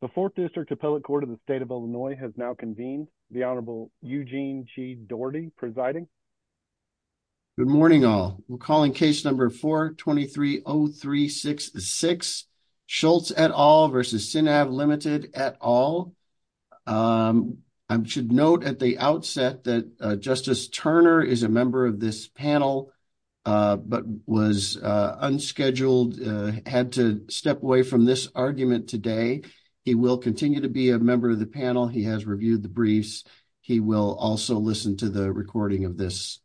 The 4th District Appellate Court of the State of Illinois has now convened, the Honorable Eugene G. Doherty presiding. Good morning all. We're calling case number 4-230366, Schultz et al. v. Sinav Ltd. et al. I should note at the outset that Justice Turner is a member of this panel, but was unscheduled, had to step away from this argument today. He will continue to be a member of the panel. He has reviewed the briefs. He will also listen to the recording of this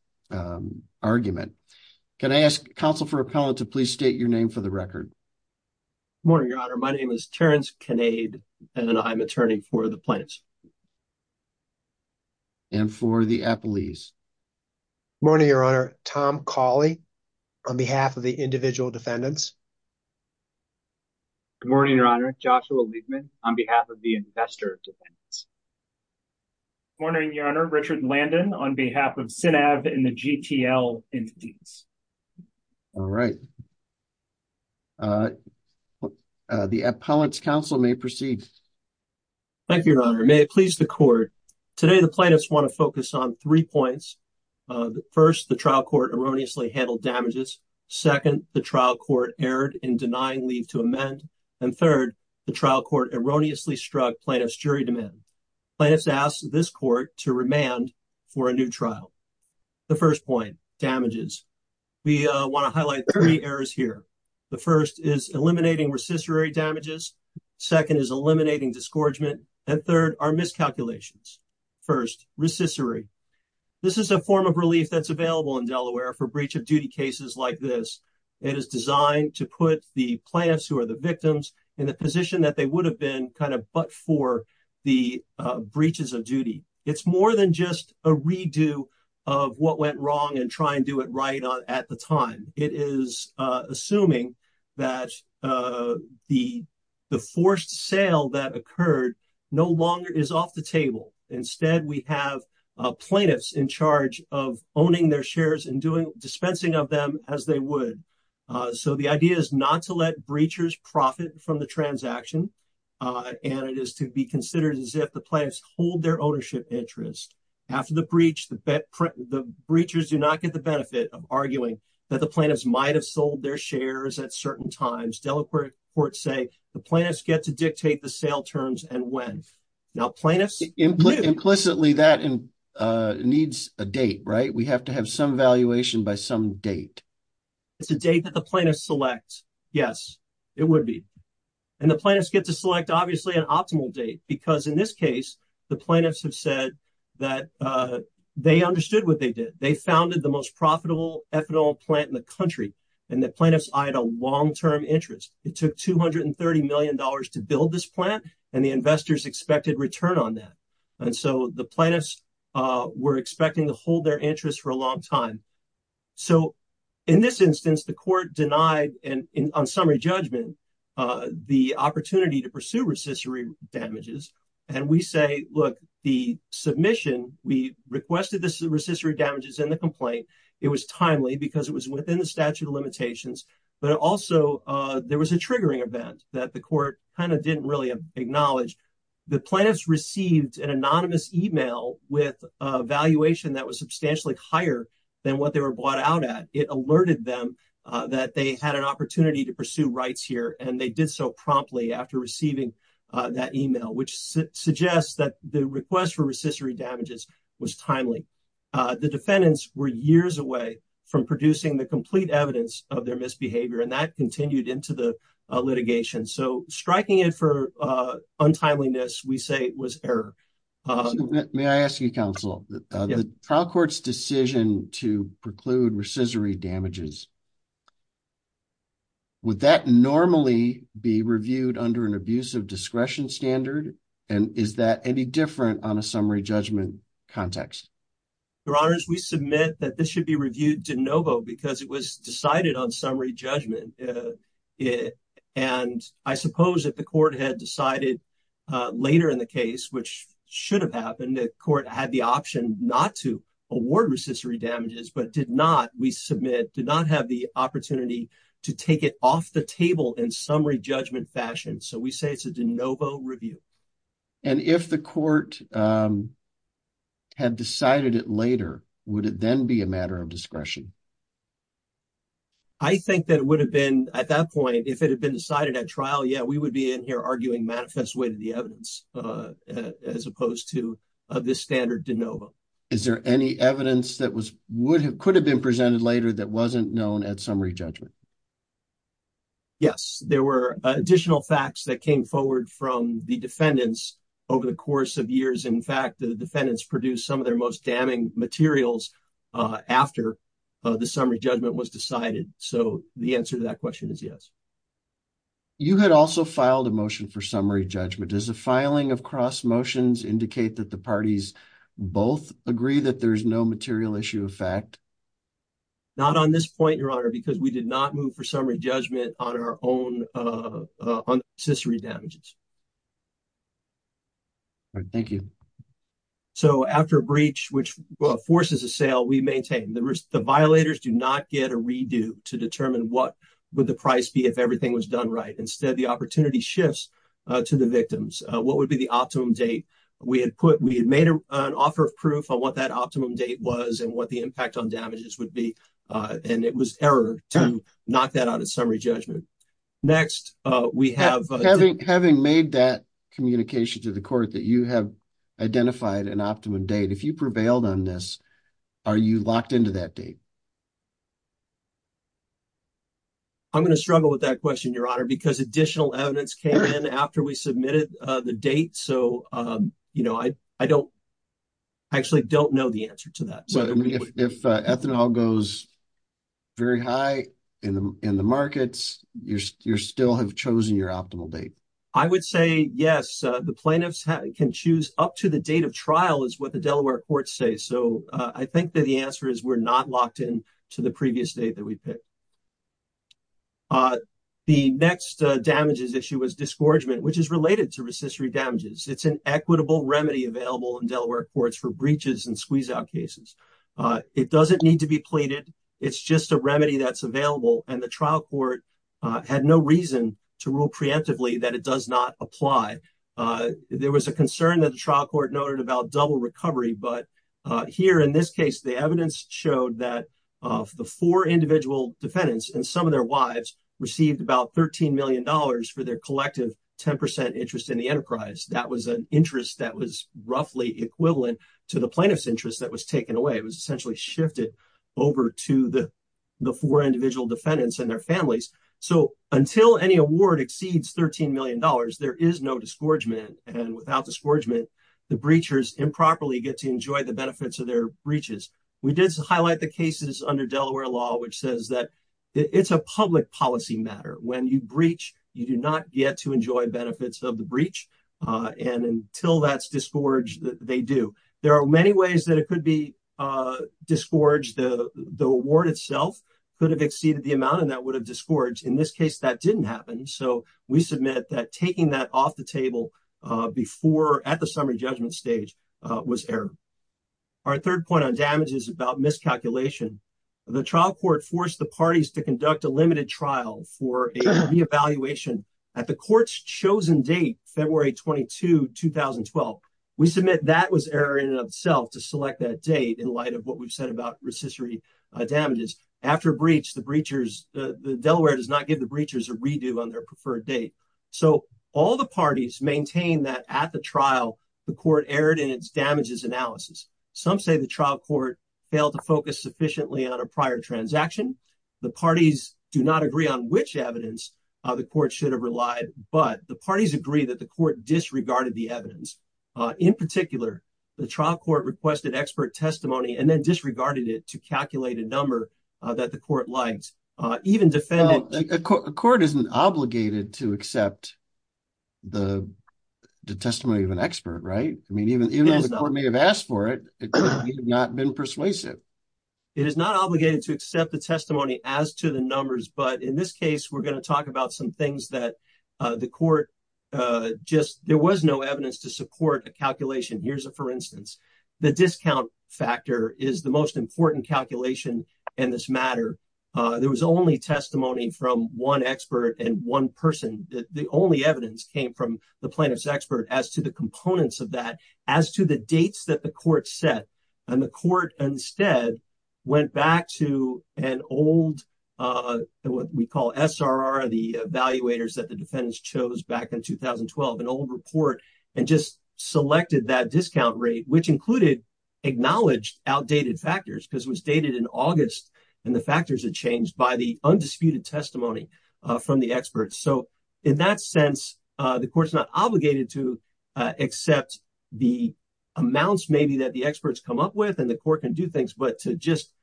argument. Can I ask counsel for appellate to please state your name for the record? Good morning, Your Honor. My name is Terrence Kinnaid, and I'm attorney for the Plains. And for the Appellees. Good morning, Your Honor. Good morning, Your Honor. Tom Cawley, on behalf of the individual defendants. Good morning, Your Honor. Joshua Liebman, on behalf of the investor defendants. Good morning, Your Honor. Richard Landon, on behalf of Sinav and the GTL entities. All right. The appellant's counsel may proceed. Thank you, Your Honor. May it please the Court. Today, the plaintiffs want to focus on three points. First, the trial court erroneously handled damages. Second, the trial court erred in denying leave to amend. And third, the trial court erroneously struck plaintiff's jury demand. Plaintiffs ask this court to remand for a new trial. The first point, damages. We want to highlight three errors here. The first is eliminating recissory damages. Second is eliminating disgorgement. And third are miscalculations. First, recissory. This is a form of relief that's available in Delaware for breach of duty cases like this. It is designed to put the plaintiffs who are the victims in the position that they would have been kind of but for the breaches of duty. It's more than just a redo of what went wrong and try and do it right at the time. It is assuming that the forced sale that occurred no longer is off the table. Instead, we have plaintiffs in charge of owning their shares and doing dispensing of them as they would. So the idea is not to let breachers profit from the transaction. And it is to be considered as if the plaintiffs hold their ownership interest. After the breach, the breachers do not get the benefit of arguing that the plaintiffs might have sold their shares at certain times. Delaware courts say the plaintiffs get to dictate the sale terms and when. And the plaintiffs get to select an optimal date because in this case, the plaintiffs have said that they understood what they did. They founded the most profitable ethanol plant in the country. And the plaintiffs eyed a long-term interest. It took $230 million to build this plant. And the plaintiffs get to select an optimal date. And so the plaintiffs were expecting to hold their interest for a long time. So in this instance, the court denied and on summary judgment the opportunity to pursue recessory damages. And we say, look, the submission, we requested this recessory damages in the complaint. It was timely because it was within the statute of limitations, but also there was a triggering event that the court kind of didn't really acknowledge. The plaintiffs received an anonymous email with a valuation that was substantially higher than what they were bought out at. It alerted them that they had an opportunity to pursue rights here. And they did so promptly after receiving that email, which suggests that the request for recessory damages was timely. The defendants were years away from producing the complete evidence of their misbehavior and that continued into the litigation. And so striking it for untimeliness, we say it was error. May I ask you counsel, the trial court's decision to preclude recessory damages, would that normally be reviewed under an abuse of discretion standard? And is that any different on a summary judgment context? Your honors, we submit that this should be reviewed de novo because it was decided on summary judgment. And I suppose that the court had decided later in the case, which should have happened, the court had the option not to award recessory damages, but did not. We submit, did not have the opportunity to take it off the table in summary judgment fashion. So we say it's a de novo review. And if the court had decided it later, would it then be a matter of discretion? I think that it would have been at that point, if it had been decided at trial, yeah, we would be in here arguing manifest way to the evidence as opposed to this standard de novo. Is there any evidence that was, would have could have been presented later that wasn't known at summary judgment? Yes. There were additional facts that came forward from the defendants over the course of years. In fact, the defendants produced some of their most damning materials after the summary judgment was decided. So the answer to that question is yes. You had also filed a motion for summary judgment. Does the filing of cross motions indicate that the parties both agree that there's no material issue of fact. Not on this point, your honor, because we did not move for summary judgment on our own on accessory damages. Thank you. So after a breach, which forces a sale, we maintain the risk. The violators do not get a redo to determine what would the price be if everything was done right. Instead, the opportunity shifts to the victims. What would be the optimum date? We had put, we had made an offer of proof on what that optimum date was and what the impact on damages would be. And it was error to knock that out of summary judgment. Next we have, having, having made that communication to the court that you have identified an optimum date. If you prevailed on this, are you locked into that date? I'm going to struggle with that question, your honor, because additional evidence came in after we submitted the date. So, you know, I, I don't actually don't know the answer to that. If ethanol goes very high in the, in the markets, you're, you're still have chosen your optimal date. I would say yes, the plaintiffs can choose up to the date of trial is what the Delaware courts say. So I think that the answer is we're not locked in to the previous date that we pick. The next damages issue was disgorgement, which is related to recessory damages. It's an equitable remedy available in Delaware courts for breaches and squeeze out cases. It doesn't need to be pleaded. It's just a remedy that's available. And the trial court had no reason to rule preemptively that it does not apply. There was a concern that the trial court noted about double recovery, but here in this case, the evidence showed that the four individual defendants and some of their wives received about $13 million for their collective 10% interest in the enterprise. That was an interest that was roughly equivalent to the plaintiff's interest that was taken away. It was essentially shifted over to the, the four individual defendants and their families. So until any award exceeds $13 million, there is no disgorgement and without disgorgement, the breachers improperly get to enjoy the benefits of their breaches. We did highlight the cases under Delaware law, which says that it's a public policy matter. When you breach, you do not get to enjoy benefits of the breach. And until that's disgorge that they do, there are many ways that it could be disgorge. The award itself could have exceeded the amount, and that would have disgorge in this case that didn't happen. So we submit that taking that off the table before at the summary judgment stage was error. Our third point on damages about miscalculation, the trial court forced the parties to conduct a limited trial for a reevaluation at the court's chosen date, February 22, 2012. We submit that was error in and of itself to select that date in light of what we've said about recissory damages. After a breach, the breachers, the Delaware does not give the breachers a redo on their preferred date. So all the parties maintain that at the trial, the court erred in its damages analysis. Some say the trial court failed to focus sufficiently on a prior transaction. The parties do not agree on which evidence the court should have relied, but the parties agree that the court disregarded the evidence. In particular, the trial court requested expert testimony and then disregarded it to calculate a number that the court likes even defended. A court isn't obligated to accept the testimony of an expert, right? I mean, even though the court may have asked for it, it could not have been persuasive. It is not obligated to accept the testimony as to the numbers. But in this case, we're going to talk about some things that the court just, there was no evidence to support a calculation. Here's a, for instance, the discount factor is the most important calculation in this matter. There was only testimony from one expert and one person. The only evidence came from the plaintiff's expert as to the components of that, as to the dates that the court set. And the court instead went back to an old, what we call SRR, one of the evaluators that the defendants chose back in 2012, an old report and just selected that discount rate, which included acknowledged outdated factors because it was dated in August. And the factors had changed by the undisputed testimony from the experts. So in that sense, the court's not obligated to accept the amounts, maybe that the experts come up with and the court can do things, but to just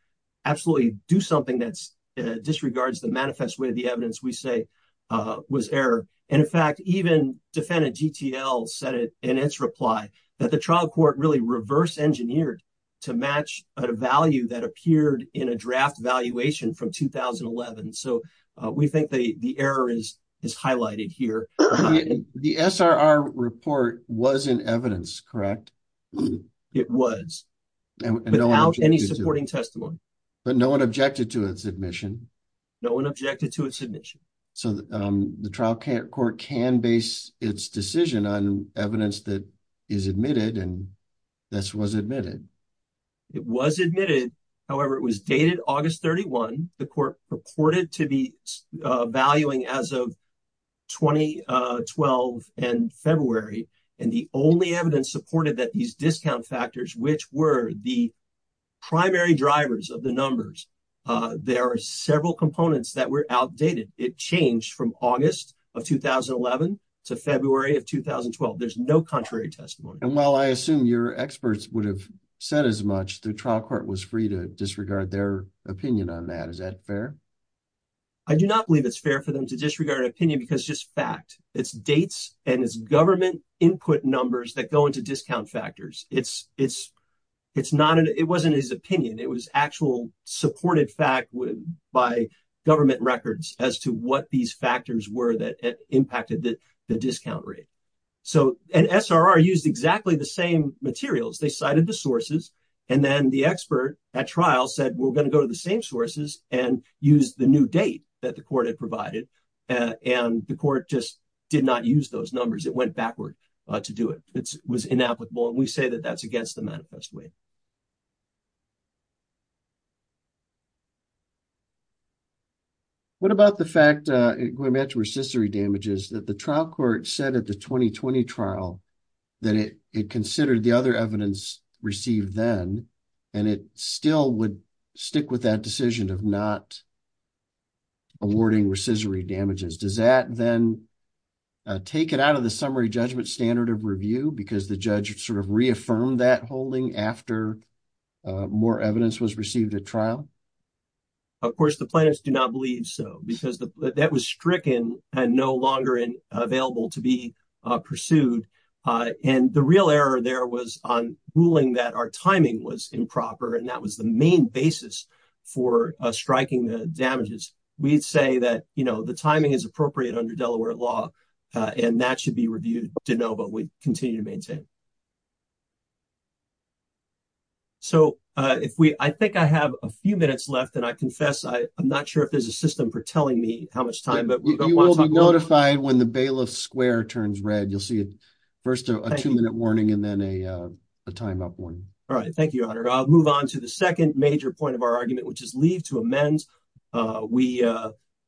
absolutely do something that's disregards the manifest way of the court, which is to say that there's no evidence to support a calculation. And the only evidence to support a calculation was error. And in fact, even defendant GTL said it in its reply that the trial court really reverse engineered to match a value that appeared in a draft valuation from 2011. So we think the, the error is, is highlighted here. The SRR report was in evidence, correct? It was without any supporting testimony, but no one objected to its admission. No one objected to a submission. So the trial court can base its decision on evidence that is admitted. And this was admitted. It was admitted. However, it was dated August 31. The court purported to be valuing as of 2012 and February. And the only evidence supported that these discount factors, which were the primary drivers of the numbers, there are several components that were outdated. It changed from August of 2011 to February of 2012. There's no contrary testimony. And while I assume your experts would have said as much, the trial court was free to disregard their opinion on that. Is that fair? I do not believe it's fair for them to disregard opinion because just fact it's dates and it's government input numbers that go into discount factors. It's, it's, it's not an, it wasn't his opinion. It was actual supported fact by government records as to what these factors were that impacted the discount rate. So an SRR used exactly the same materials. They cited the sources. And then the expert at trial said, we're going to go to the same sources and use the new date that the court had did not use those numbers. It went backward to do it. It was inapplicable. And we say that that's against the manifest way. What about the fact, going back to recissory damages that the trial court said at the 2020 trial that it considered the other evidence received then, and it still would stick with that decision of not awarding recissory damages. Does that then take it out of the summary judgment standard of review because the judge sort of reaffirmed that holding after more evidence was received at trial? Of course, the planners do not believe so because that was stricken and no longer in available to be pursued. And the real error there was on ruling that our timing was improper. And that was the main basis for striking the damages. We'd say that, you know, the timing is appropriate under Delaware law and that should be reviewed to know, but we continue to maintain. So if we, I think I have a few minutes left and I confess, I'm not sure if there's a system for telling me how much time, but we don't want to talk. Notified when the bailiff square turns red, you'll see it first a two minute warning and then a, a timeout one. All right. Thank you, your honor. I'll move on to the second major point of our argument, which is leave to amend. We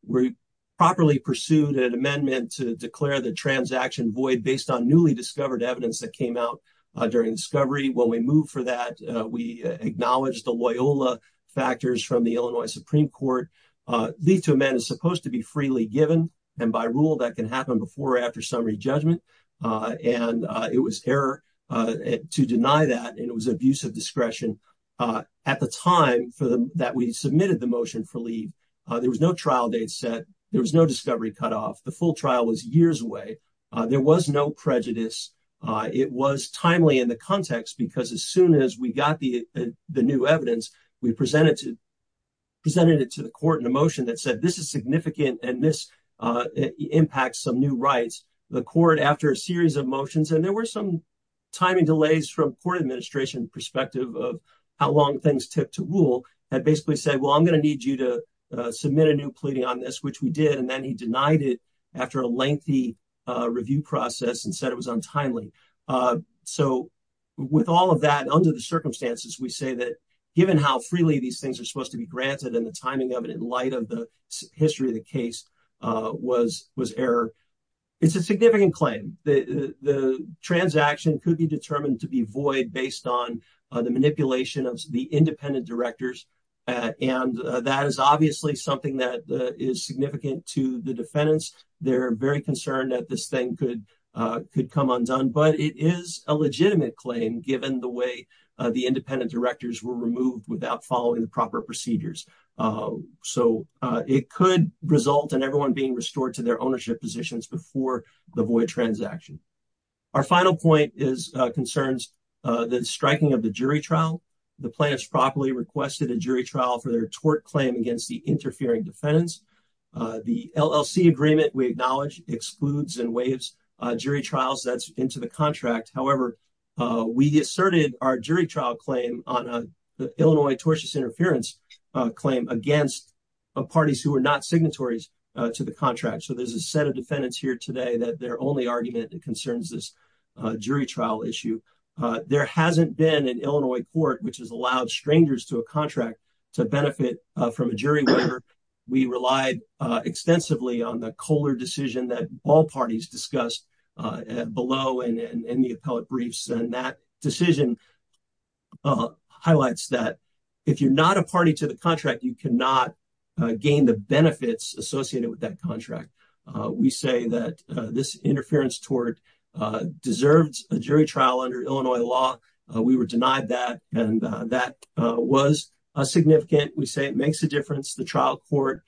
we properly pursued an amendment to declare the transaction void based on newly discovered evidence that came out during discovery. When we moved for that, we acknowledged the Loyola factors from the Illinois Supreme court, lead to a man is supposed to be freely given. And by rule that can happen before or after summary judgment. And it was error to deny that. And it was abusive discretion at the time for the, that we submitted the motion for leave. There was no trial date set. There was no discovery cutoff. The full trial was years away. There was no prejudice. It was timely in the context, because as soon as we got the, the new evidence, we presented to presented it to the court in a motion that said, this is significant. And this impacts some new rights, the court after a series of motions. And there were some timing delays from court administration perspective of how long things took to rule that basically said, well, I'm going to need you to submit a new pleading on this, which we did. And then he denied it after a lengthy review process and said it was untimely. So with all of that under the circumstances, we say that given how freely these things are supposed to be granted and the timing of it, in light of the history of the case was, was error. It's a significant claim. The, the, the transaction could be determined to be void based on the manipulation of the independent directors. And that is obviously something that is significant to the defendants. They're very concerned that this thing could could come undone, but it is a legitimate claim given the way the independent directors were removed without following the proper procedures. So it could result in everyone being restored to their ownership positions before the void transaction. Our final point is concerns that striking of the jury trial, the plaintiffs properly requested a jury trial for their tort claim against the interfering defendants. The LLC agreement we acknowledge excludes and waives jury trials that's into the contract. However, we asserted our jury trial claim on the Illinois tortious interference claim against parties who are not signatories to the contract. So there's a set of defendants here today that their only argument that concerns this jury trial issue. There hasn't been an Illinois court, which has allowed strangers to a contract to benefit from a jury waiver. We relied extensively on the Kohler decision that all parties discussed below and in the appellate briefs. And that decision highlights that if you're not a party to the contract, you cannot gain the benefits associated with that contract. We say that this interference tort deserves a jury trial under Illinois law. We were denied that. And that was a significant, we say it makes a difference. The trial court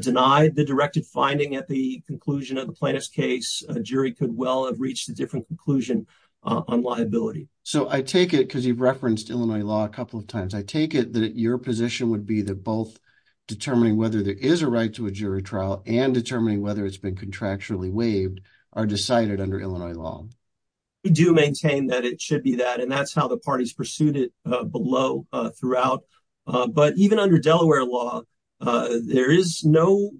denied the directed finding at the conclusion of the plaintiff's case. A jury could well have reached a different conclusion on liability. So I take it because you've referenced Illinois law a couple of times. I take it that your position would be that both determining whether there is a right to a jury trial and determining whether it's been contractually waived are decided under Illinois law. We do maintain that it should be that, and that's how the parties pursued it below throughout. But even under Delaware law, there is no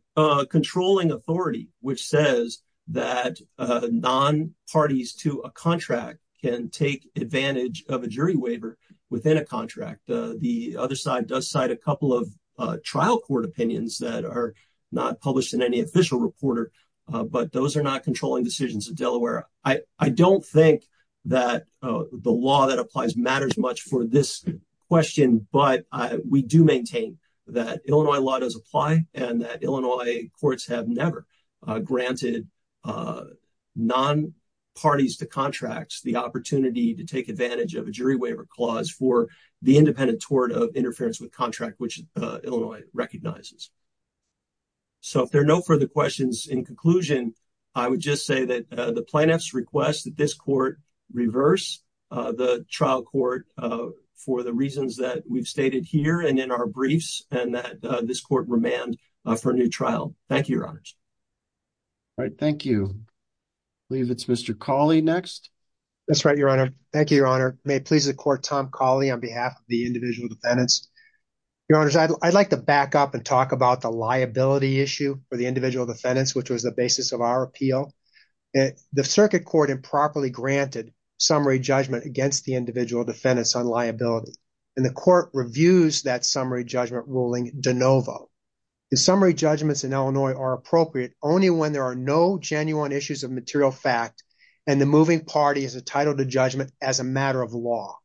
controlling authority, which says that non parties to a contract can take advantage of a jury waiver within a contract. The other side does cite a couple of trial court opinions that are not published in any official reporter, but those are not controlling decisions in Delaware. I don't think that the law that applies matters much for this question, but we do maintain that Illinois law does apply and that Illinois courts have never granted non parties to contracts, the opportunity to take advantage of a jury waiver clause for the independent tort of interference with contract, which Illinois recognizes. So if there are no further questions in conclusion, I would just say that the plaintiff's request that this court reverse the trial court for the reasons that we've stated here and in our briefs and that this court remand for a new trial. Thank you, Your Honors. All right. Thank you. I believe it's Mr. Cawley next. That's right, Your Honor. Thank you, Your Honor. May it please the court, Tom Cawley on behalf of the individual defendants. Your Honors, I'd like to back up and talk about the liability issue for the individual defendants, which was the basis of our appeal. The circuit court improperly granted summary judgment against the individual defendants on liability and the court reviews that summary judgment ruling de novo. The summary judgments in Illinois are appropriate only when there are no title to judgment as a matter of law.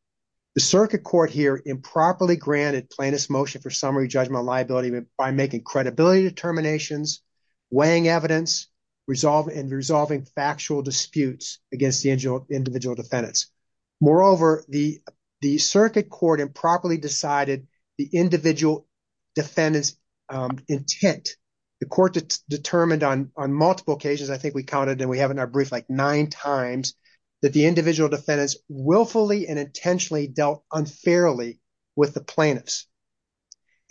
The circuit court here improperly granted plaintiff's motion for summary judgment liability by making credibility determinations, weighing evidence, resolving factual disputes against the individual defendants. Moreover, the circuit court improperly decided the individual defendants intent. The court determined on multiple occasions, I think we counted and we have in our brief like nine times, that the individual defendants willfully and intentionally dealt unfairly with the plaintiffs.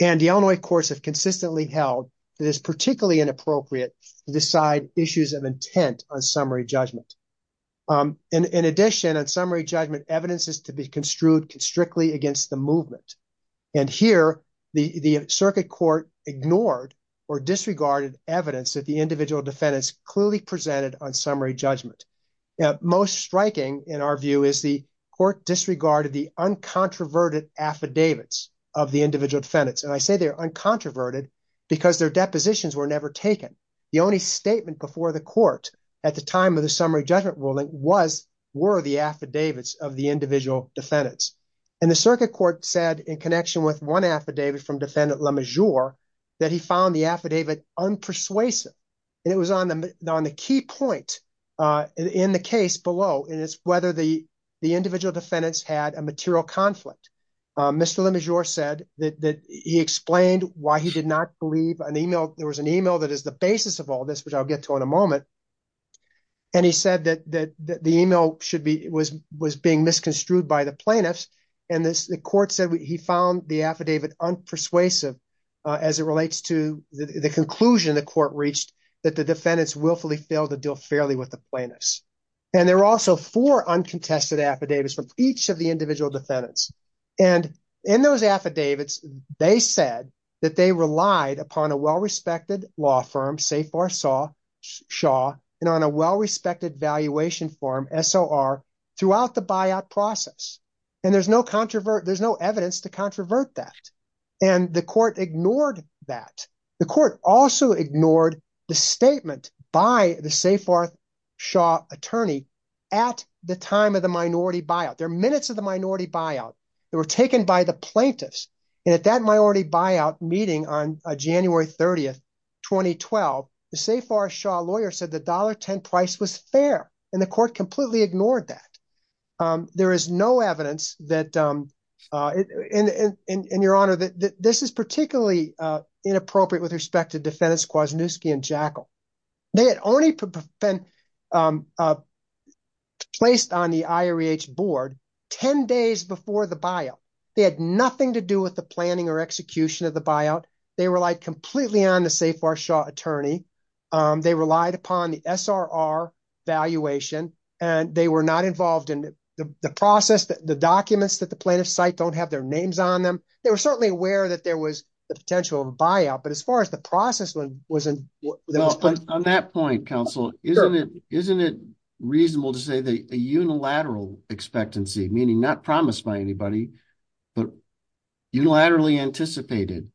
And the Illinois courts have consistently held that it is particularly inappropriate to decide issues of intent on summary judgment. In addition, on summary judgment evidence is to be construed strictly against the movement. And here, the circuit court ignored or disregarded evidence that the individual defendants clearly presented on summary judgment. Most striking in our view is the court disregarded the uncontroverted affidavits of the individual defendants. And I say they're uncontroverted because their depositions were never taken. The only statement before the court at the time of the summary judgment ruling was, were the affidavits of the individual defendants. And the circuit court said in connection with one affidavit from defendant LeMessurier that he found the affidavit unpersuasive. And it was on the, on the key point in the case below. And it's whether the, the individual defendants had a material conflict. Mr. LeMessurier said that he explained why he did not believe an email. There was an email that is the basis of all this, which I'll get to in a moment. And he said that the email should be, was being misconstrued by the plaintiffs. And this, the court said he found the affidavit unpersuasive as it relates to the conclusion the court reached that the defendants willfully failed to deal fairly with the plaintiffs. And there were also four uncontested affidavits from each of the individual defendants. And in those affidavits, they said that they relied upon a well-respected law firm, Safer Shaw and on a well-respected valuation form, SOR throughout the buyout process. And there's no controversy, there's no evidence to controvert that. And the court ignored that. The court also ignored the statement by the Safer Shaw attorney at the time of the minority buyout. There are minutes of the minority buyout that were taken by the plaintiffs. And at that minority buyout meeting on January 30th, 2012, the Safer Shaw lawyer said the $1.10 price was fair. And the court completely ignored that. There is no evidence that, and your honor, that this is particularly inappropriate with respect to defendants Kwasniewski and Jekyll. They had only been placed on the IREH board 10 days before the buyout. They had nothing to do with the planning or execution of the buyout. They relied completely on the Safer Shaw attorney. They relied upon the SRR valuation, and they were not involved in the process, the documents that the plaintiff cite don't have their names on them. They were certainly aware that there was the potential of a buyout, but as far as the process wasn't. On that point, counsel, isn't it, isn't it reasonable to say that a unilateral expectancy, meaning not promised by anybody, but unilaterally anticipated,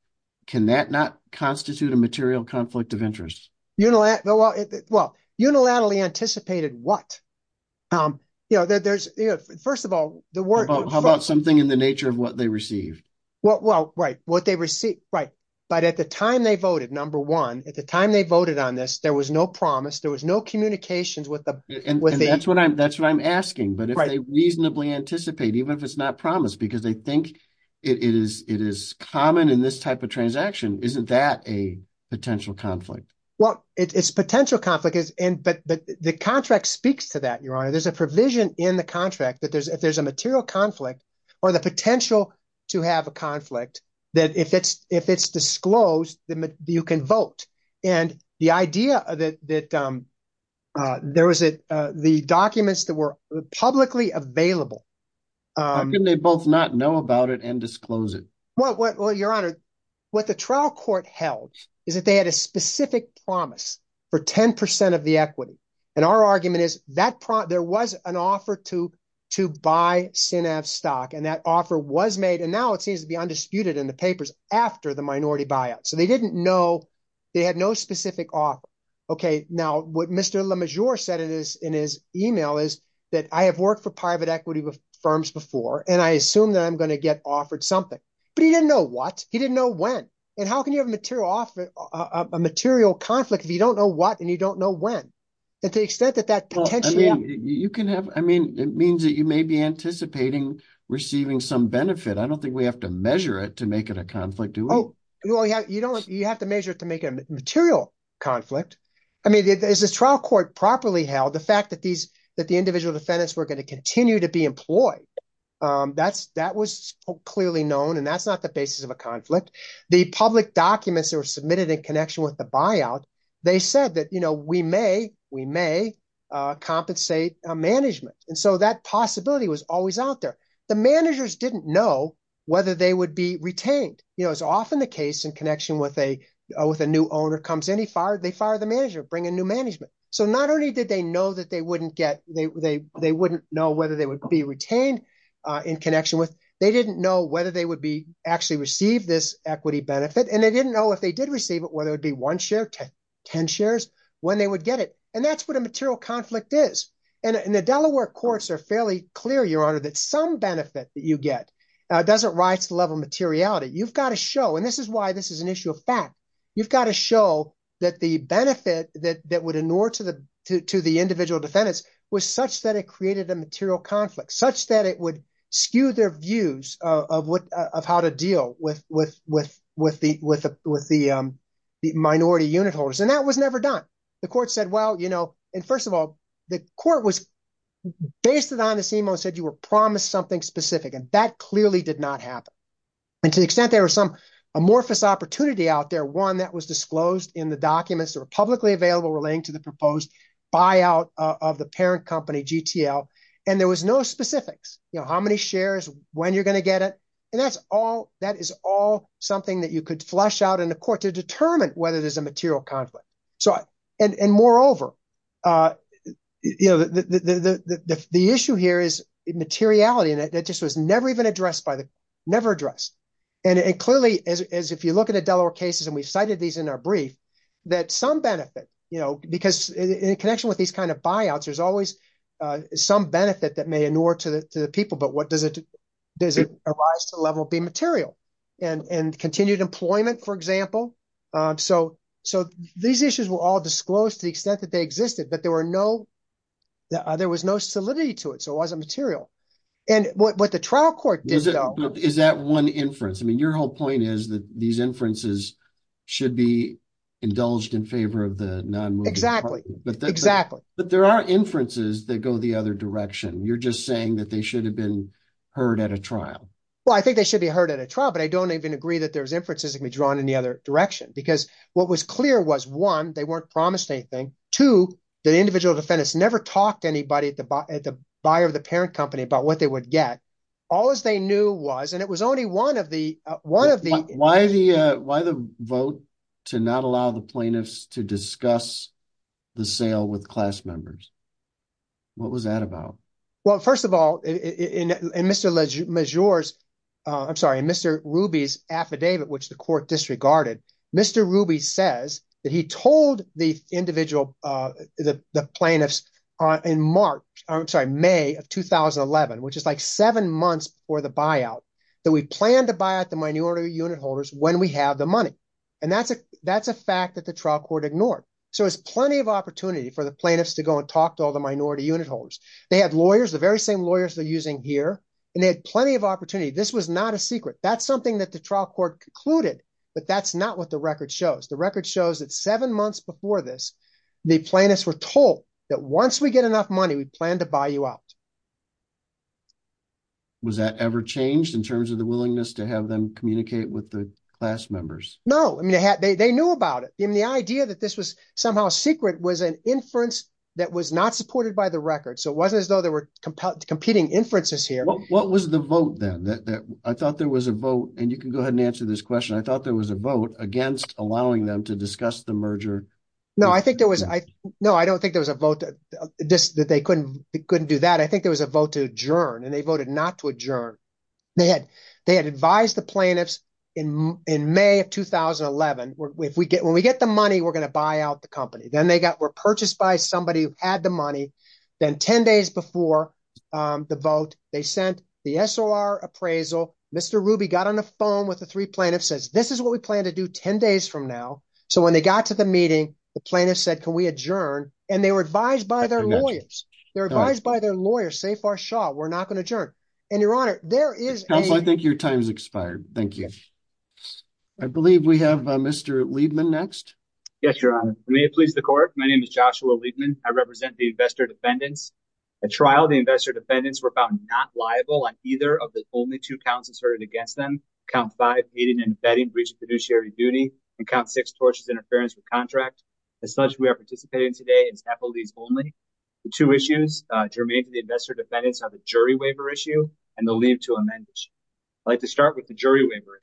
can that not constitute a material conflict of interest? Well, unilaterally anticipated what? First of all, the word. How about something in the nature of what they received? Well, right. What they received, right. But at the time they voted, number one, at the time they voted on this, there was no promise. There was no communications with the. And that's what I'm, that's what I'm asking. But if they reasonably anticipate, even if it's not promised because they think it is, it is common in this type of transaction, isn't that a potential conflict? Well, it's potential conflict is in, but the contract speaks to that. Your Honor, there's a provision in the contract that there's, if there's a material conflict or the potential to have a conflict that if it's, if it's disclosed, then you can vote. And the idea that there was the documents that were publicly available. How can they both not know about it and disclose it? Well, your Honor, what the trial court held is that they had a specific promise for 10% of the equity. And our argument is that there was an offer to, to buy SynEv stock and that offer was made. And now it seems to be undisputed in the papers after the minority buyout. So they didn't know they had no specific offer. Okay. Now what Mr. LeMajor said it is in his email is that I have worked for private equity firms before, and I assume that I'm going to get offered something, but he didn't know what, he didn't know when, and how can you have a material offer a material conflict if you don't know what, and you don't know when. And to the extent that that potential. I mean, you can have, I mean, it means that you may be anticipating receiving some benefit. I don't think we have to measure it to make it a conflict. Do we? You don't, you have to measure it to make it a material conflict. I mean, is this trial court properly held the fact that these, that the individual defendants were going to continue to be employed? That's that was clearly known and that's not the basis of a conflict. The public documents that were submitted in connection with the buyout. They said that, you know, we may, we may compensate management. And so that possibility was always out there. The managers didn't know whether they would be retained. You know, it's often the case in connection with a, with a new owner comes in, he fired, they fired the manager, bring a new management. So not only did they know that they wouldn't get, they, they, they wouldn't know whether they would be retained in connection with, they didn't know whether they would be actually receive this equity benefit. And they didn't know if they did receive it, whether it would be one share, 10 shares, when they would get it. And that's what a material conflict is. And the Delaware courts are fairly clear, your honor, that some benefit that you get doesn't rise to the level of materiality. You've got to show, and this is why this is an issue of fact. You've got to show that the benefit that, that would ignore to the, to, was such that it created a material conflict such that it would skew their views of what, of how to deal with, with, with, with the, with the, with the minority unit holders. And that was never done. The court said, well, you know, and first of all, the court was based on this email and said you were promised something specific. And that clearly did not happen. And to the extent there was some amorphous opportunity out there, one that was disclosed in the documents that were publicly available, relating to the proposed buyout of the parent company, GTL. And there was no specifics, you know, how many shares, when you're going to get it. And that's all, that is all something that you could flush out in the court to determine whether there's a material conflict. So, and, and moreover, you know, the, the, the, the, the, the, the issue here is materiality. And it just was never even addressed by the, never addressed. And it clearly, as, as if you look at a Delaware cases, and we've cited these in our brief that some benefit, you know, because in connection with these kinds of buyouts, there's always some benefit that may inure to the, to the people, but what does it, does it arise to level B material and, and continued employment, for example. So, so these issues were all disclosed to the extent that they existed, but there were no, there was no solidity to it. So it wasn't material. And what the trial court did. Is that one inference? I mean, your whole point is that these inferences should be indulged in favor of the non-moving. Exactly. Exactly. But there are inferences that go the other direction. You're just saying that they should have been heard at a trial. Well, I think they should be heard at a trial, but I don't even agree that there's inferences that can be drawn in the other direction because what was clear was one, they weren't promised anything. Two, the individual defendants never talked to anybody at the, at the buyer of the parent company about what they would get. All as they knew was, and it was only one of the, one of the. Why the, why the vote to not allow the plaintiffs to discuss the sale with class members? What was that about? Well, first of all, in, in, in Mr. Majors, I'm sorry, in Mr. Ruby's affidavit, which the court disregarded, Mr. Ruby says that he told the individual, the, the plaintiffs in March, I'm sorry, May of 2011, which is like seven months before the buyout, that we plan to buy out the minority unit holders when we have the money. And that's a, that's a fact that the trial court ignored. So it was plenty of opportunity for the plaintiffs to go and talk to all the minority unit holders. They had lawyers, the very same lawyers they're using here and they had plenty of opportunity. This was not a secret. That's something that the trial court concluded, but that's not what the record shows. The record shows that seven months before this, the plaintiffs were told that once we get enough money, we plan to buy you out. Was that ever changed in terms of the willingness to have them communicate with the class members? No. I mean, they had, they, they knew about it. And the idea that this was somehow secret was an inference that was not supported by the record. So it wasn't as though there were competing inferences here. What was the vote then that, that I thought there was a vote and you can go ahead and answer this question. I thought there was a vote against allowing them to discuss the merger. No, I think there was, I know. I don't think there was a vote that they couldn't, couldn't do that. I think there was a vote to adjourn and they voted not to adjourn. They had, they had advised the plaintiffs in, in May of 2011 where if we get, when we get the money, we're going to buy out the company. Then they got were purchased by somebody who had the money. Then 10 days before the vote, they sent the SOR appraisal. Mr. Ruby got on the phone with the three plaintiffs says, this is what we plan to do 10 days from now. So when they got to the meeting, the plaintiff said, can we adjourn? And they were advised by their lawyers. They're advised by their lawyers. Say for sure. We're not going to adjourn. And your honor, there is. I think your time's expired. Thank you. I believe we have a Mr. Liebman next. Yes, your honor. May it please the court. My name is Joshua Liebman. I represent the investor defendants. At trial, the investor defendants were found not liable on either of the only two counts inserted against them. Count five, meeting and vetting breach of fiduciary duty and count six torches interference with contract. As such, we are participating today is Apple leads only the two issues germane to the investor defendants are the jury waiver issue and the leave to amend. I'd like to start with the jury waiver.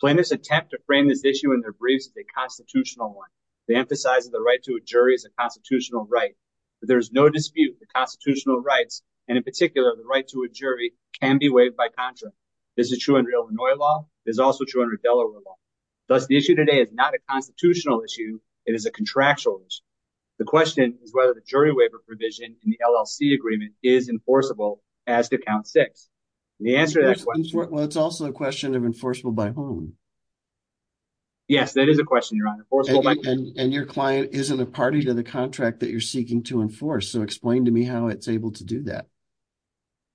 Plaintiffs attempt to frame this issue in their briefs. The constitutional one, they emphasize the right to a jury is a constitutional right, but there is no dispute. The constitutional rights. And in particular, the right to a jury can be waived by contract. This is true in real law. There's also 200 Delaware law. Thus, the issue today is not a constitutional issue. It is a contractual issue. The question is whether the jury waiver provision in the LLC agreement is enforceable as to count six. The answer to that question. Well, it's also a question of enforceable by home. Yes, that is a question. You're on the force. And your client isn't a party to the contract that you're seeking to enforce. So explain to me how it's able to do that.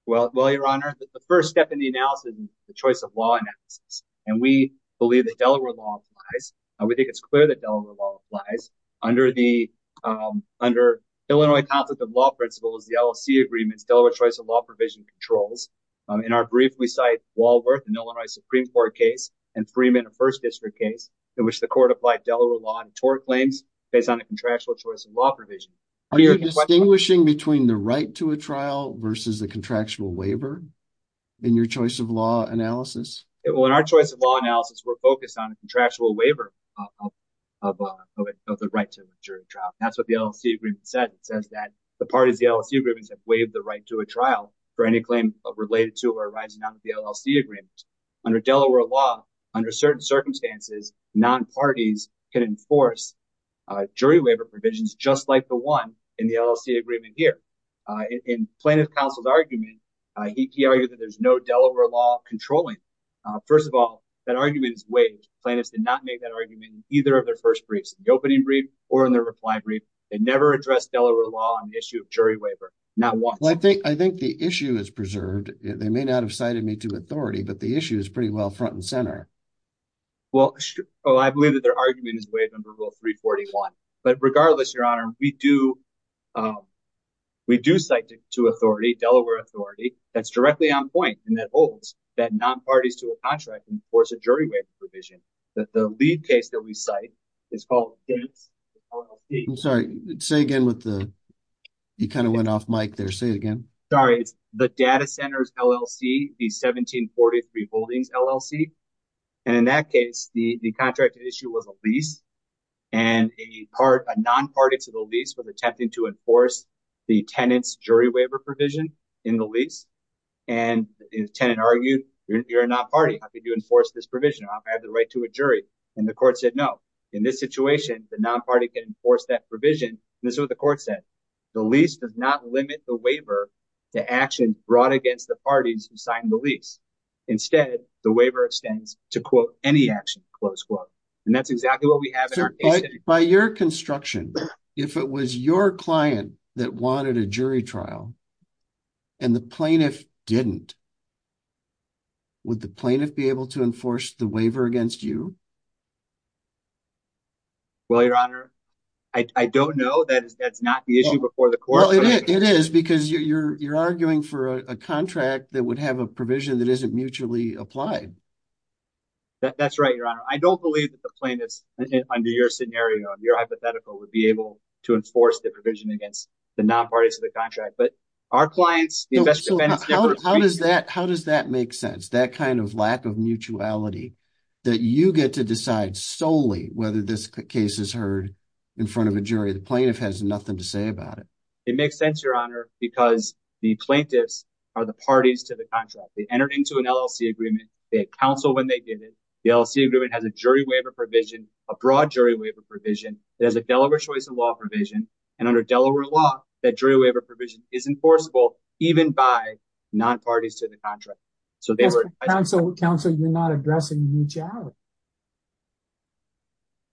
Well, well, your honor, the first step in the analysis, the choice of law analysis. And we believe that Delaware law applies. We think it's clear that Delaware law applies under the, under Illinois conflict of law principles, the LLC agreements, Delaware choice of law provision controls. In our brief, we cite Walworth and Illinois Supreme court case and Freeman, the first district case in which the court applied Delaware law and tort claims based on the contractual choice of law provision. Are you distinguishing between the right to a trial versus the In your choice of law analysis. Well, in our choice of law analysis, we're focused on a contractual waiver of, of, of the right to jury trial. That's what the LLC agreement said. It says that the parties, the LLC agreements have waived the right to a trial for any claim of related to, or arising out of the LLC agreements under Delaware law, under certain circumstances, non-parties can enforce jury waiver provisions, just like the one in the LLC agreement here in plaintiff counsel's argument. He argued that there's no Delaware law controlling. First of all, that argument is waived. Plaintiffs did not make that argument in either of their first briefs, the opening brief or in their reply brief. They never addressed Delaware law on the issue of jury waiver. Not once. I think the issue is preserved. They may not have cited me to authority, but the issue is pretty well front and center. Well, I believe that their argument is waived under rule three 41, but regardless, your honor, we do. We do cite to authority Delaware authority that's directly on point. And that holds that non-parties to a contract and force a jury waiver provision that the lead case that we cite is called. I'm sorry. Say again with the, he kind of went off mic there. Say it again. Sorry. It's the data centers, LLC, the 1743 holdings, LLC. And in that case, the contract issue was a lease and a part, a non-party to the lease with attempting to enforce the tenants, jury waiver provision in the lease. And the tenant argued, you're not party. How could you enforce this provision? I have the right to a jury. And the court said, no, in this situation, the non-party can enforce that provision. And this is what the court said. The lease does not limit the waiver to action brought against the parties who signed the lease. Instead, the waiver extends to quote any action, close quote. And that's exactly what we have. So by your construction, if it was your client that wanted a jury trial. And the plaintiff didn't. Would the plaintiff be able to enforce the waiver against you? Well, your honor, I don't know. That is, that's not the issue before the court. It is because you're, you're arguing for a contract that would have a provision that isn't mutually applied. That's right. Your honor. I don't believe that the plaintiffs under your scenario, your hypothetical would be able to enforce the provision against the non-parties of the contract, but our clients. How does that, how does that make sense? That kind of lack of mutuality that you get to decide solely, whether this case is heard in front of a jury, the plaintiff has nothing to say about it. It makes sense, your honor, because the plaintiffs are the parties to the contract. They entered into an LLC agreement. They counsel when they did it. The LLC agreement has a jury waiver provision, a broad jury waiver provision. It has a Delaware choice of law provision. And under Delaware law, that jury waiver provision is enforceable even by non-parties to the contract. So they were. Counsel, counsel, you're not addressing.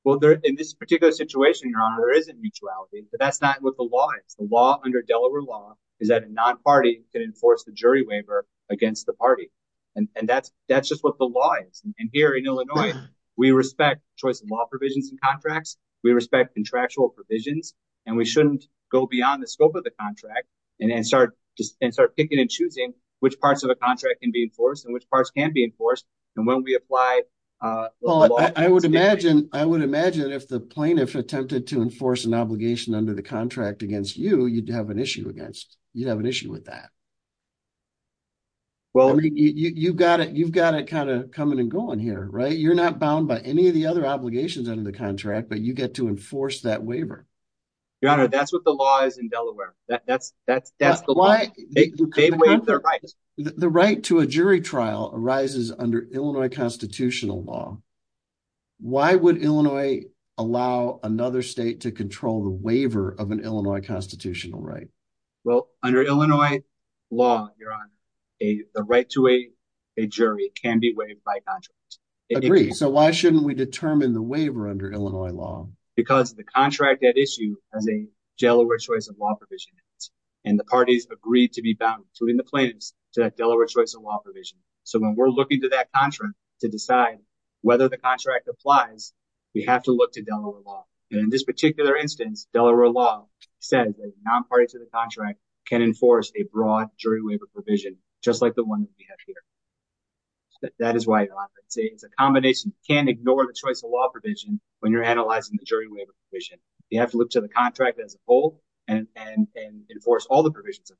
Well, there in this particular situation, your honor, there isn't mutuality, but that's not what the law is. The law under Delaware law is that a non-party can enforce the jury waiver against the party. And that's, that's just what the law is. And here in Illinois, we respect choice of law provisions and contracts. We respect contractual provisions and we shouldn't go beyond the scope of the contract. And then start just, and start picking and choosing which parts of the contract can be enforced and which parts can be enforced. And when we apply. Well, I would imagine, I would imagine if the plaintiff attempted to enforce an obligation under you'd have an issue against you'd have an issue with that. Well, I mean, you've got it. You've got it kind of coming and going here, right? You're not bound by any of the other obligations under the contract, but you get to enforce that waiver. Your honor. That's what the law is in Delaware. That's, that's, that's the law. The right to a jury trial arises under Illinois constitutional law. Why would Illinois allow another state to control the waiver of an Illinois constitutional right? Well, under Illinois law, your honor, a, the right to a, a jury can be waived by contract. Agree. So why shouldn't we determine the waiver under Illinois law? Because the contract that issue as a Delaware choice of law provision. And the parties agreed to be bound to in the plaintiffs to that Delaware choice of law provision. So when we're looking to that contract to decide whether the contract applies, we have to look to Delaware law. And in this particular instance, Delaware law said that non-party to the contract can enforce a broad jury waiver provision, just like the one that we have here. That is why it's a, it's a combination can ignore the choice of law provision. When you're analyzing the jury waiver, you have to look to the contract as a whole and, and, and enforce all the provisions of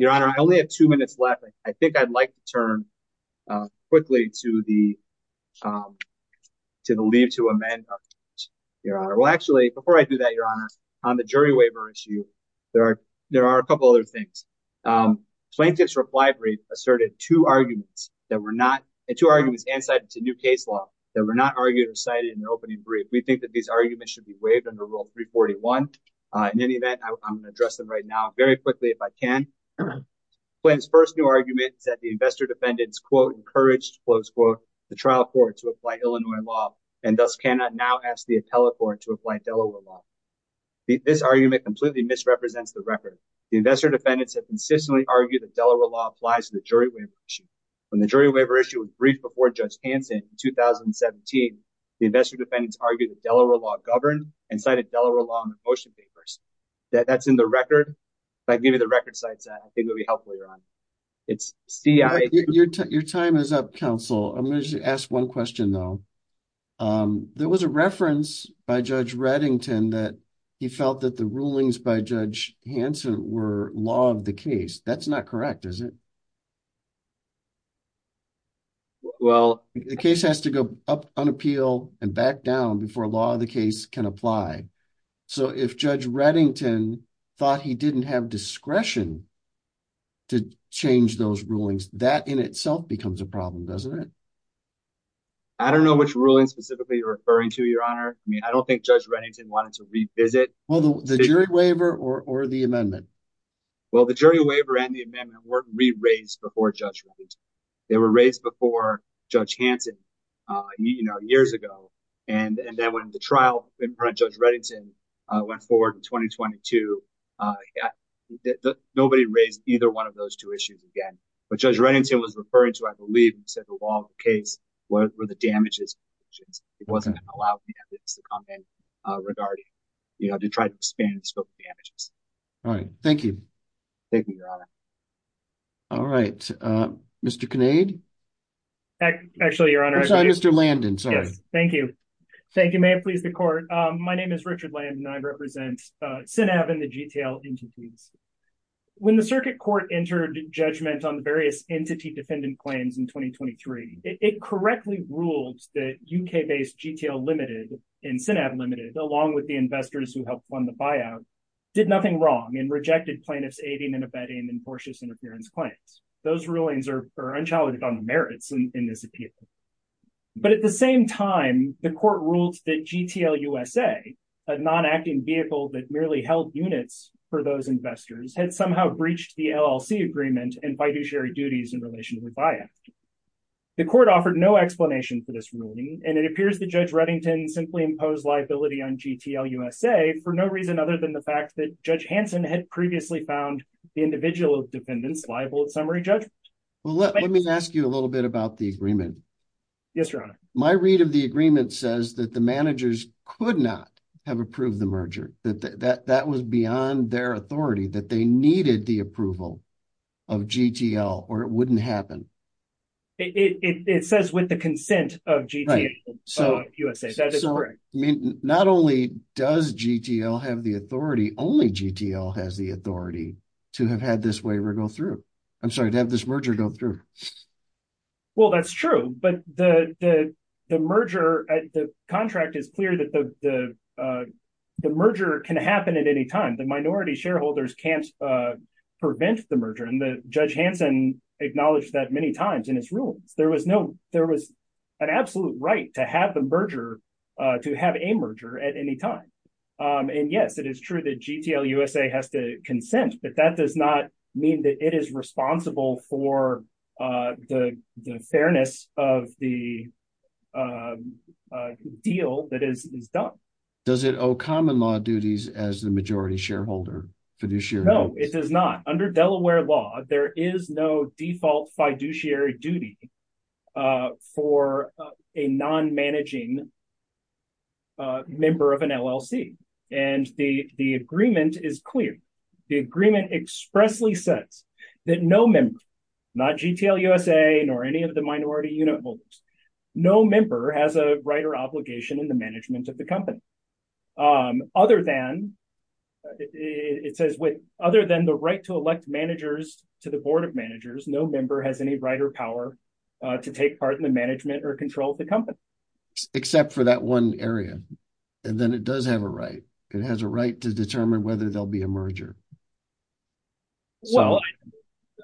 your honor. I only have two minutes left. I think I'd like to turn quickly to the, to the leave to amend your honor. Well, actually before I do that, your honor on the jury waiver issue, there are, there are a couple of other things. Plaintiff's reply brief asserted two arguments that were not two arguments and cited to new case law that were not argued or cited in the opening brief. We think that these arguments should be waived under rule three 41. In any event, I'm going to address them right now very quickly. If I can. When his first new argument is that the investor defendants quote, encouraged close quote, the trial court to apply Illinois law and thus cannot now ask the appellate court to apply Delaware law. This argument completely misrepresents the record. The investor defendants have consistently argued that Delaware law applies to the jury. When the jury waiver issue was briefed before judge Hanson, 2017, the investor defendants argued that Delaware law governed and cited Delaware law on the motion papers. That that's in the record. I'd give you the record sites. I think it would be helpful. Your honor. It's your time. Your time is up council. I'm going to ask one question though. There was a reference by judge Reddington that he felt that the rulings by judge Hanson were law of the case. That's not correct. Is it? Well, the case has to go up on appeal and back down before law of the case can apply. So if judge Reddington thought he didn't have discretion. To change those rulings that in itself becomes a problem. Doesn't it? I don't know which ruling specifically you're referring to your honor. I mean, I don't think judge Reddington wanted to revisit the jury waiver or, or the amendment. Well, the jury waiver and the amendment weren't re-raised before judge. They were raised before judge Hanson, you know, years ago. And then when the trial in front of judge Reddington went forward in 2022, nobody raised either one of those two issues again, but judge Reddington was referring to, I believe he said the law of the case were the damages. It wasn't allowed to come in regarding, you know, to try to expand the scope of damages. All right. Thank you. Thank you, your honor. All right. Mr. Kinnaid. Actually your honor. Sorry, Mr. Landon. Sorry. Thank you. Thank you. May it please the court. My name is Richard Landon. I represent SNAV and the GTL entities. When the circuit court entered judgment on the various entity defendant claims in 2023, it correctly ruled that UK-based GTL limited and SNAV limited, along with the investors who helped fund the buyout, did nothing wrong and rejected plaintiffs, aiding and abetting and tortious interference claims. Those rulings are unchallenged on the merits in this appeal. But at the same time, the court ruled that GTL USA, a non-acting vehicle that merely held units for those investors had somehow breached the LLC agreement and fiduciary duties in relation to the buyout. The court offered no explanation for this ruling. And it appears the judge Reddington simply imposed liability on GTL USA for no reason, other than the fact that judge Hanson had previously found the individual of dependents liable at summary judgment. Well, let me ask you a little bit about the agreement. Yes, your honor. My read of the agreement says that the managers could not have approved the merger, that, that, that, that was beyond their authority that they needed the approval of GTL, or it wouldn't happen. It says with the consent of GTL USA. So not only does GTL have the authority, only GTL has the authority to have had this waiver go through. I'm sorry to have this merger go through. Well, that's true, but the, the merger at the contract is clear that the, the, the merger can happen at any time. The minority shareholders can't prevent the merger. And the judge Hanson acknowledged that many times in his rulings, there was no, there was an absolute right to have the merger, to have a merger at any time. And yes, it is true that GTL USA has to consent, but that does not mean that it is responsible for the, the fairness of the deal that is done. Does it owe common law duties as the majority shareholder fiduciary? No, it does not under Delaware law. There is no default fiduciary duty for a non-managing member of an LLC. And the, the agreement is clear. The agreement expressly says that no member, not GTL USA, nor any of the minority unit holders, no member has a right or obligation in the management of the company. Other than it says with other than the right to elect managers to the board of managers, no member has any right or power to take part in the management or control of the company. Except for that one area. And then it does have a right. It has a right to determine whether there'll be a merger. Well,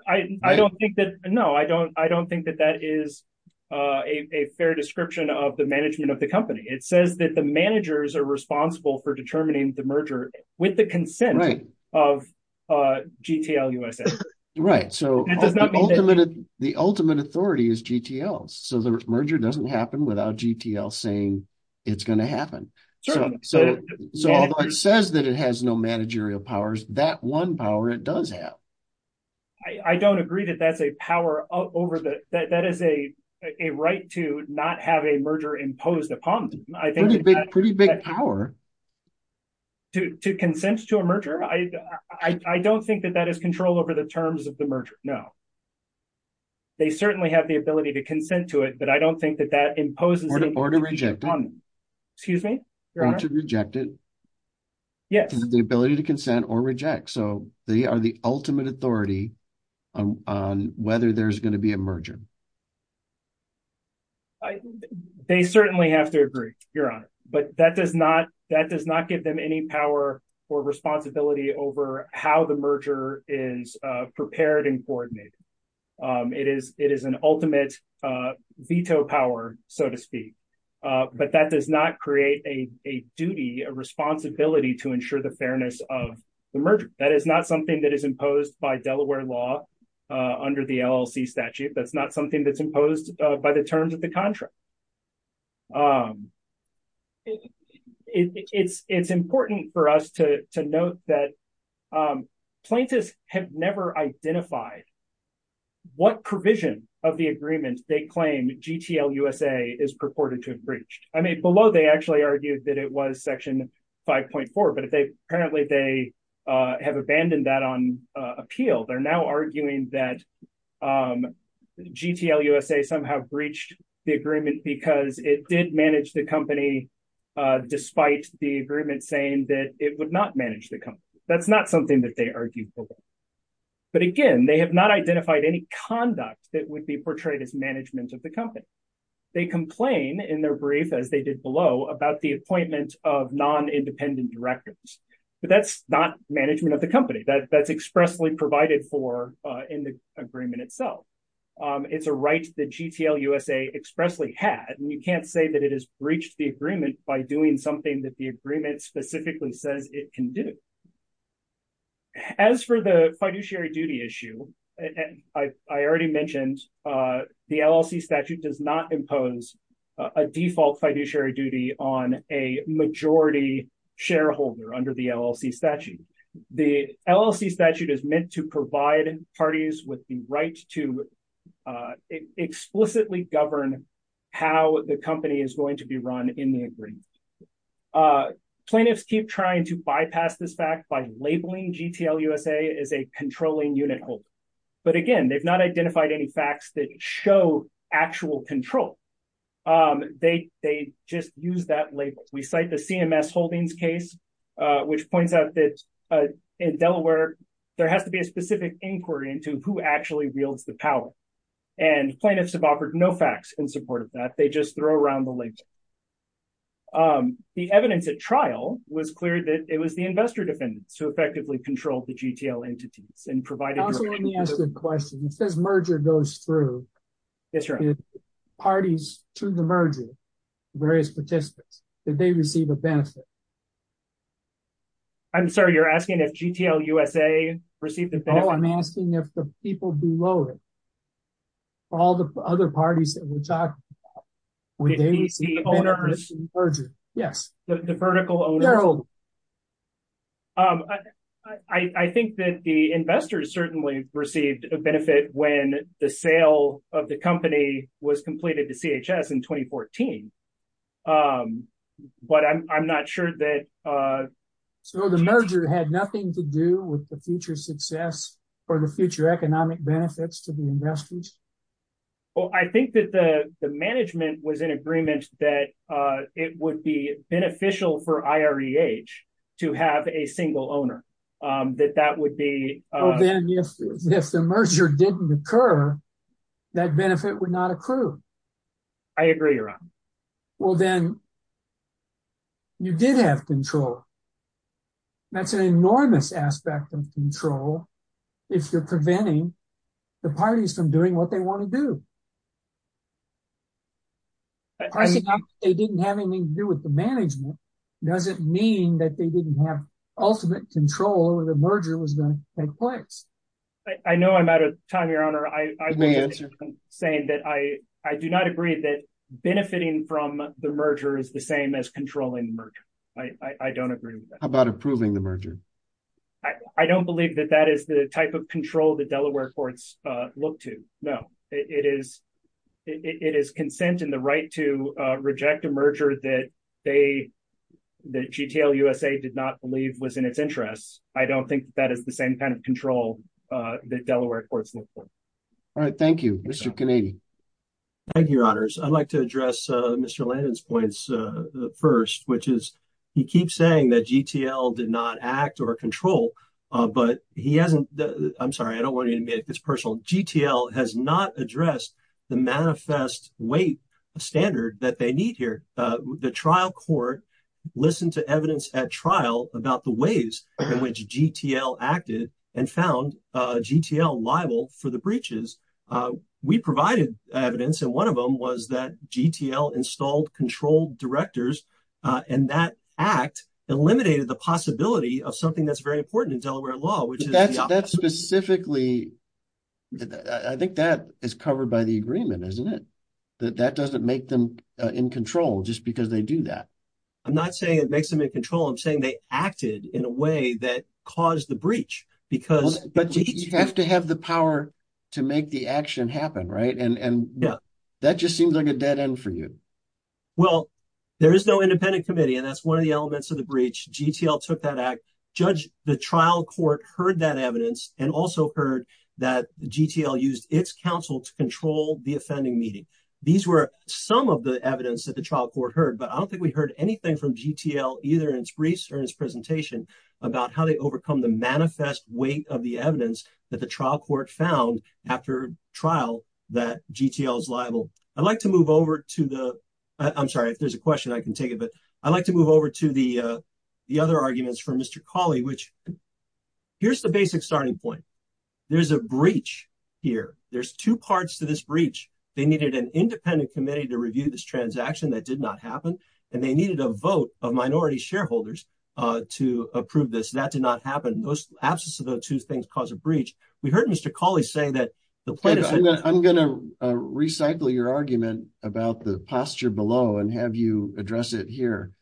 I don't think that, no, I don't, I don't think that that is a fair description of the management of the company. It says that the managers are responsible for determining the merger with the consent of GTL USA. Right. So the ultimate authority is GTL. So the merger doesn't happen without GTL saying it's going to happen. So it says that it has no managerial powers, that one power it does have. I don't agree that that's a power over the, that, that is a, a right to not have a merger imposed upon them. I think. To, to consent to a merger. I, I, I don't think that that is control over the terms of the merger. No, they certainly have the ability to consent to it, but I don't think that that imposes. Excuse me. Yeah. The ability to consent or reject. So they are the ultimate authority on whether there's going to be a merger. They certainly have to agree you're on it, but that does not, that does not give them any power or responsibility over how the merger is prepared and coordinated. It is, it is an ultimate, a veto power, so to speak. But that does not create a, a duty, a responsibility to ensure the fairness of the merger. That is not something that is imposed by Delaware law under the LLC statute. That's not something that's imposed by the terms of the contract. It's, it's important for us to, to note that plaintiffs have never identified what provision of the agreement they claim GTL USA is purported to have breached. I mean, below, they actually argued that it was section 5.4, but if they apparently they have abandoned that on appeal, they're now arguing that GTL USA somehow breached the agreement because it did manage the company, despite the agreement saying that it would not manage the company. That's not something that they argued, but again, they have not identified any conduct that would be portrayed as management of the company. They complain in their brief, as they did below, about the appointment of non-independent directors, but that's not management of the company that that's expressly provided for in the agreement itself. It's a right that GTL USA expressly had, and you can't say that it has breached the agreement by doing something that the agreement specifically says it can do. As for the fiduciary duty issue, I already mentioned, the LLC statute does not impose a default fiduciary duty on a majority shareholder under the LLC statute. The LLC statute is meant to provide parties with the right to explicitly govern how the company is going to be run in the agreement. Plaintiffs keep trying to bypass this fact by labeling GTL USA as a controlling unit holder. But again, they've not identified any facts that show actual control. They just use that label. We cite the CMS Holdings case, which points out that in Delaware, there has to be a specific inquiry into who actually wields the power and plaintiffs have offered no facts in support of that. They just throw around the label. The evidence at trial was clear that it was the investor defendants who effectively controlled the GTL entities and provided- Let me ask you a question. It says merger goes through. Parties to the merger, various participants, did they receive a benefit? I'm sorry, you're asking if GTL USA received a benefit? No, I'm asking if the people below it, all the other parties that we're talking about- The owners? Yes. The vertical owners? I think that the investors certainly received a benefit when the sale of the company was completed to CHS in 2014. But I'm not sure that- So the merger had nothing to do with the future success or the future economic benefits to the investors? Well, I think that the management was in agreement that it would be beneficial for IREH to have a single owner, that that would be- Well, then if the merger didn't occur, that benefit would not accrue. I agree, Ron. Well, then you did have control. That's an enormous aspect of control if you're preventing the parties from doing what they want to do. They didn't have anything to do with the management. It doesn't mean that they didn't have ultimate control over the merger was going to take place. I know I'm out of time, Your Honor. I do not agree that benefiting from the merger is the same as controlling the merger. I don't agree with that. How about approving the merger? I don't believe that that is the type of control that Delaware courts look to. No, it is consent and the right to reject a merger that they, that GTL USA did not believe was in its interest. I don't think that is the same kind of control that Delaware courts look for. Thank you, Mr. Kennedy. Thank you, Your Honors. I'd like to address Mr. Landon's points first, which is he keeps saying that GTL did not act or control, but he hasn't. I'm sorry. I don't want you to make this personal. GTL has not addressed the manifest weight standard that they need here. The trial court listened to evidence at trial about the ways in which GTL acted and found GTL liable for the breaches. We provided evidence, and one of them was that GTL installed controlled directors, and that act eliminated the possibility of something that's very important in Delaware law. That's specifically, I think that is covered by the agreement, isn't it? That doesn't make them in control just because they do that. I'm not saying it makes them in control. I'm saying they acted in a way that caused the breach. You have to have the power to make the action happen, right? That just seems like a dead end for you. Well, there is no independent committee, and that's one of the elements of the breach. GTL took that act. Judge, the trial court heard that evidence and also heard that GTL used its counsel to control the offending meeting. These were some of the evidence that the trial court heard, but I don't think we heard anything from GTL either in its briefs or in its presentation about how they overcome the manifest weight of the evidence that the trial court found after trial that GTL is liable. I'd like to move over to the... I'm sorry. If there's a question, I can take it, but I'd like to move over to the other arguments from Mr. Cawley, which... Here's the basic starting point. There's a breach here. There's two parts to this breach. They needed an independent committee to review this transaction that did not happen, and they needed a vote of minority shareholders to approve this. That did not happen. Absence of those two things caused a breach. We heard Mr. Cawley say that the plaintiff... I'm going to recycle your argument about the posture below and have you address it here.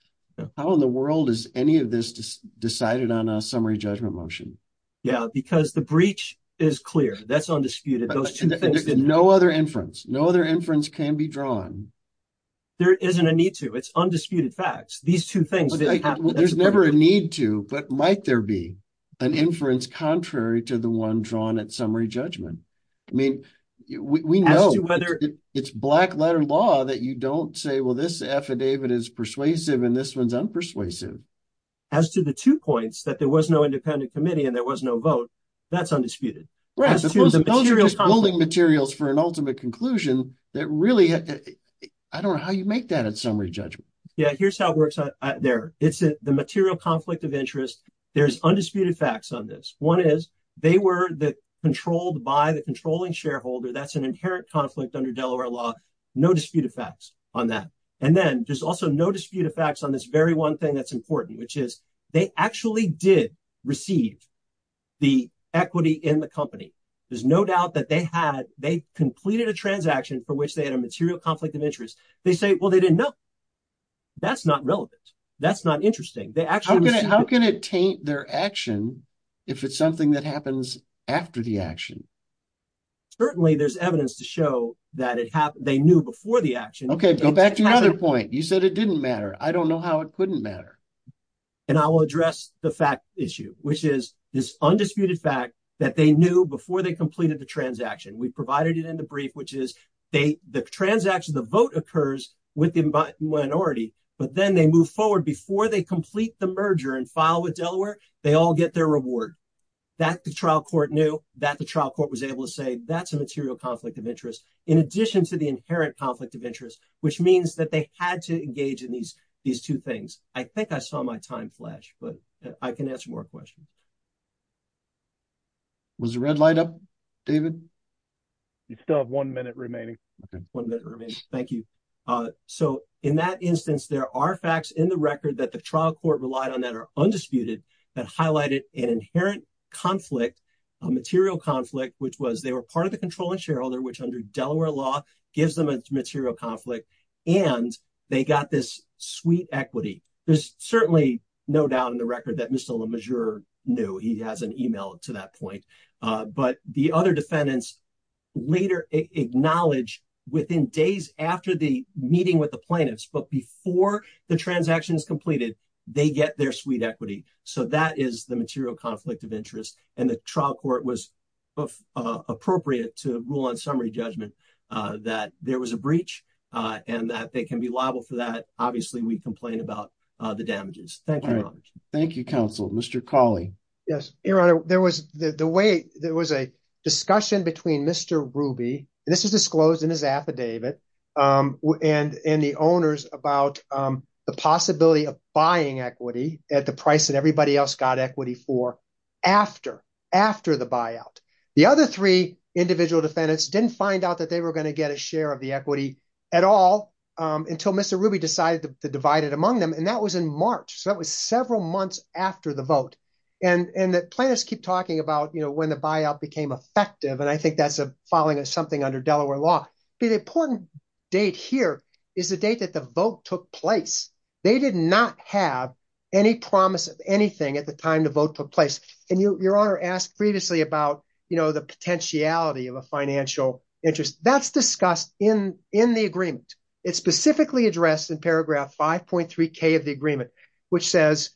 How in the world is any of this decided on a summary judgment motion? Yeah, because the breach is clear. That's undisputed. Those two things... There's no other inference. No other inference can be drawn. There isn't a need to. It's undisputed facts. These two things... There's never a need to, but might there be an inference contrary to the one drawn at summary judgment? I mean, we know it's black letter law that you don't say, well, this affidavit is persuasive and this one's unpersuasive. As to the two points that there was no independent committee and there was no vote, that's undisputed. Those are just building materials for an ultimate conclusion that really... I don't know how you make that at summary judgment. Yeah, here's how it works there. The material conflict of interest, there's undisputed facts on this. One is they were controlled by the controlling shareholder. That's an inherent conflict under Delaware law. No disputed facts on that. And then there's also no disputed facts on this very one thing that's important, which is they actually did receive the equity in the company. There's no doubt that they had... They completed a transaction for which they had a material conflict of interest. They say, well, they didn't know. That's not relevant. That's not interesting. How can it taint their action if it's something that happens after the action? Certainly there's evidence to show that they knew before the action. Okay, go back to your other point. You said it didn't matter. I don't know how it couldn't matter. And I will address the fact issue, which is this undisputed fact that they knew before they completed the transaction. We provided it in the brief, which is the transaction, the vote occurs with the minority. But then they move forward before they complete the merger and file with Delaware. They all get their reward. That the trial court knew that the trial court was able to say that's a material conflict of interest. In addition to the inherent conflict of interest, which means that they had to engage in these two things. I think I saw my time flash, but I can answer more questions. Was the red light up, David? You still have one minute remaining. One minute remaining. Thank you. So, in that instance, there are facts in the record that the trial court relied on that are undisputed that highlighted an inherent conflict, a material conflict, which was they were part of the controlling shareholder, which under Delaware law gives them a material conflict. And they got this sweet equity. There's certainly no doubt in the record that Mr. LeMessurier knew. He has an email to that point. But the other defendants later acknowledge within days after the meeting with the plaintiffs, but before the transaction is completed, they get their sweet equity. So, that is the material conflict of interest. And the trial court was appropriate to rule on summary judgment that there was a breach and that they can be liable for that. Obviously, we complain about the damages. Thank you. Thank you, counsel. Mr. Cawley. Yes. Your Honor, there was a discussion between Mr. Ruby, and this was disclosed in his affidavit, and the owners about the possibility of buying equity at the price that everybody else got equity for after the buyout. The other three individual defendants didn't find out that they were going to get a share of the equity at all until Mr. Ruby decided to divide it among them. And that was in March. So, that was several months after the vote. And the plaintiffs keep talking about, you know, when the buyout became effective, and I think that's following something under Delaware law. The important date here is the date that the vote took place. They did not have any promise of anything at the time the vote took place. And Your Honor asked previously about, you know, the potentiality of a financial interest. That's discussed in the agreement. It's specifically addressed in paragraph 5.3K of the agreement, which says,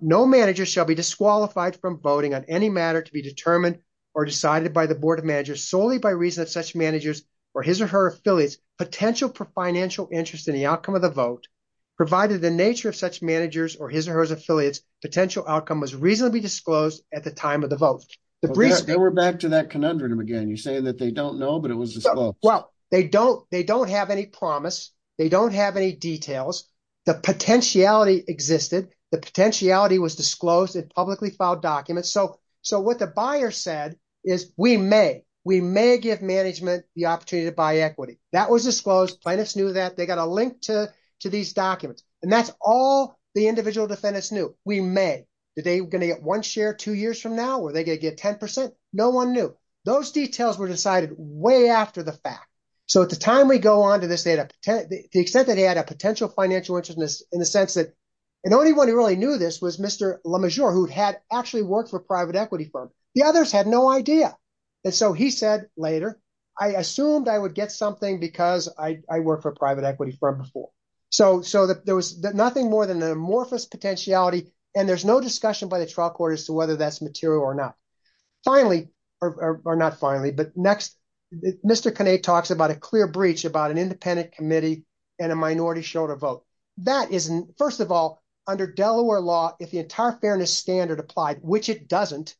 no manager shall be disqualified from voting on any matter to be determined or decided by the board of managers solely by reason of such managers or his or her affiliates potential for financial interest in the outcome of the vote, provided the nature of such managers or his or her affiliates potential outcome was reasonably disclosed at the time of the vote. They were back to that conundrum again. You're saying that they don't know, but it was disclosed. Well, they don't have any promise. They don't have any details. The potentiality existed. The potentiality was disclosed. It publicly filed documents. So what the buyer said is, we may. We may give management the opportunity to buy equity. That was disclosed. Plaintiffs knew that. They got a link to these documents. And that's all the individual defendants knew. We may. Are they going to get one share two years from now? Are they going to get 10%? No one knew. Those details were decided way after the fact. So at the time we go on to this, the extent that he had a potential financial interest in the sense that the only one who really knew this was Mr. LeMessurier who had actually worked for a private equity firm. The others had no idea. And so he said later, I assumed I would get something because I worked for a private equity firm before. So there was nothing more than an amorphous potentiality. And there's no discussion by the trial court as to whether that's material or not. Finally, or not finally, but next. Mr. Kinney talks about a clear breach about an independent committee and a minority show to vote. That isn't first of all, under Delaware law, if the entire fairness standard applied, which it doesn't.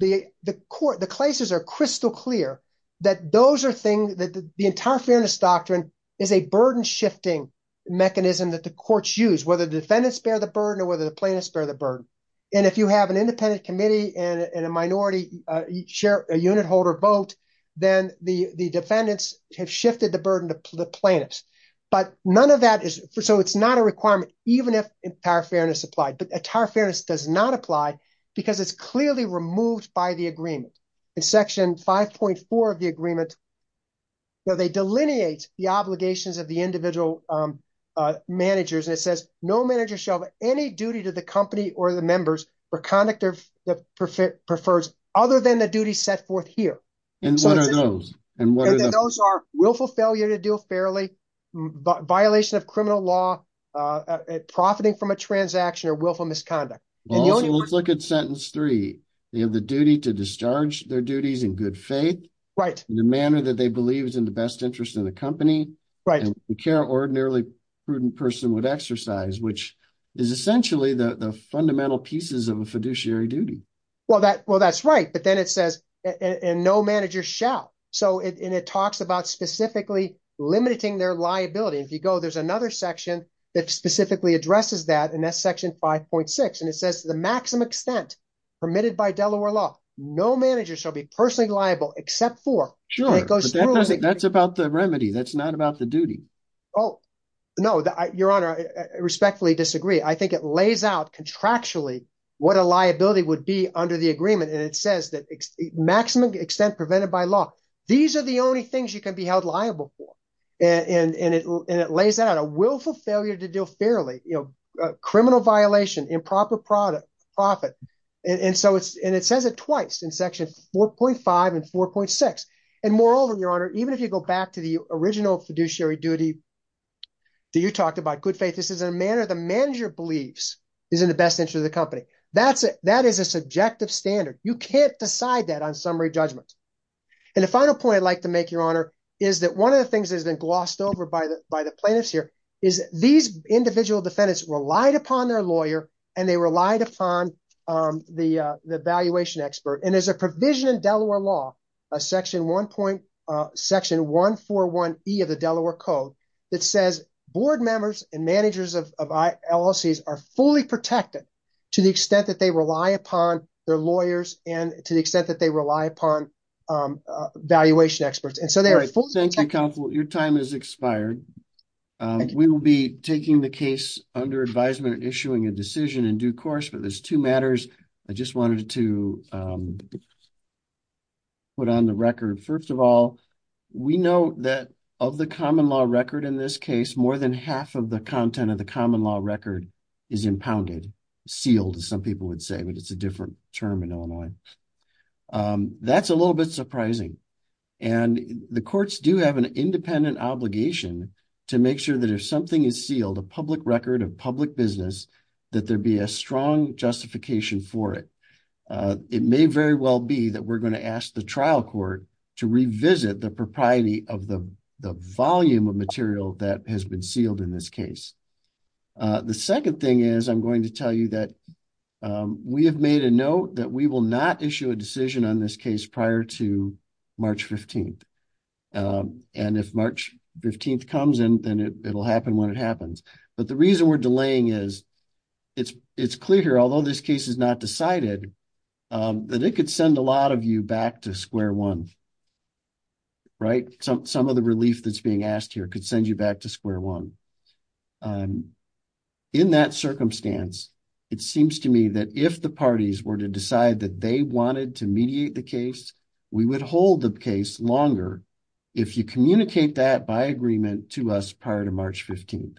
The court, the classes are crystal clear. That those are things that the entire fairness doctrine is a burden shifting mechanism that the courts use, whether the defendants bear the burden or whether the plaintiffs bear the burden. And if you have an independent committee and a minority share, a unit holder vote, then the, the defendants have shifted the burden to the plaintiffs. But none of that is for, so it's not a requirement, even if entire fairness applied, but entire fairness does not apply because it's clearly removed by the agreement. In section 5.4 of the agreement. So they delineate the obligations of the individual managers. And it says no manager shall have any duty to the company or the members for conduct of the perfect prefers other than the duty set forth here. And what are those? And what are those are willful failure to deal fairly. But violation of criminal law. Profiting from a transaction or willful misconduct. Let's look at sentence three. You have the duty to discharge their duties in good faith. Right. The manner that they believe is in the best interest of the company. Right. And the care ordinarily prudent person would exercise, which is essentially the fundamental pieces of a fiduciary duty. Well, that, well, that's right. But then it says, and no manager shall. So it talks about specifically limiting their liability. If you go, there's another section that specifically addresses that and that section 5.6. And it says the maximum extent permitted by Delaware law, no manager shall be personally liable except for. Sure. That's about the remedy. That's not about the duty. Oh, no, your honor. I respectfully disagree. I think it lays out contractually what a liability would be under the agreement. And it says that maximum extent prevented by law. These are the only things you can be held liable for. And, and, and it, and it lays out a willful failure to deal fairly, you know, criminal violation, improper product profit. And so it's, and it says it twice in section 4.5 and 4.6. And moreover, your honor, even if you go back to the original fiduciary duty that you talked about, good faith, this is a manner. The manager believes is in the best interest of the company. That's it. That is a subjective standard. You can't decide that on summary judgment. And the final point I'd like to make your honor is that one of the things that has been glossed over by the, by the plaintiffs here is these individual defendants relied upon their lawyer and they relied upon the, the valuation expert. And there's a provision in Delaware law, a section one point section one, four, one E of the Delaware code. It says board members and managers of LLCs are fully protected to the extent that they rely upon their lawyers and to the extent that they rely upon valuation experts. And so they are full. Thank you. Your time is expired. We will be taking the case under advisement and issuing a decision in due course, but there's two matters. I just wanted to put on the record. First of all, we know that of the common law record in this case, more than half of the content of the common law record is impounded sealed. As some people would say, but it's a different term in Illinois. That's a little bit surprising. And the courts do have an independent obligation to make sure that if something is sealed, a public record of public business, That there'd be a strong justification for it. It may very well be that we're going to ask the trial court to revisit the propriety of the volume of material that has been sealed in this case. The second thing is I'm going to tell you that we have made a note that we will not issue a decision on this case prior to March 15th. And if March 15th comes in, then it'll happen when it happens. But the reason we're delaying is it's clear here, although this case is not decided, that it could send a lot of you back to square one, right? Some of the relief that's being asked here could send you back to square one. In that circumstance, it seems to me that if the parties were to decide that they wanted to mediate the case, we would hold the case longer. If you communicate that by agreement to us prior to March 15th.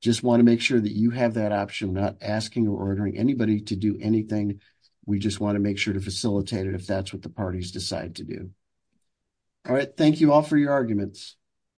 Just want to make sure that you have that option, not asking or ordering anybody to do anything. We just want to make sure to facilitate it. If that's what the parties decide to do. All right. Thank you all for your arguments.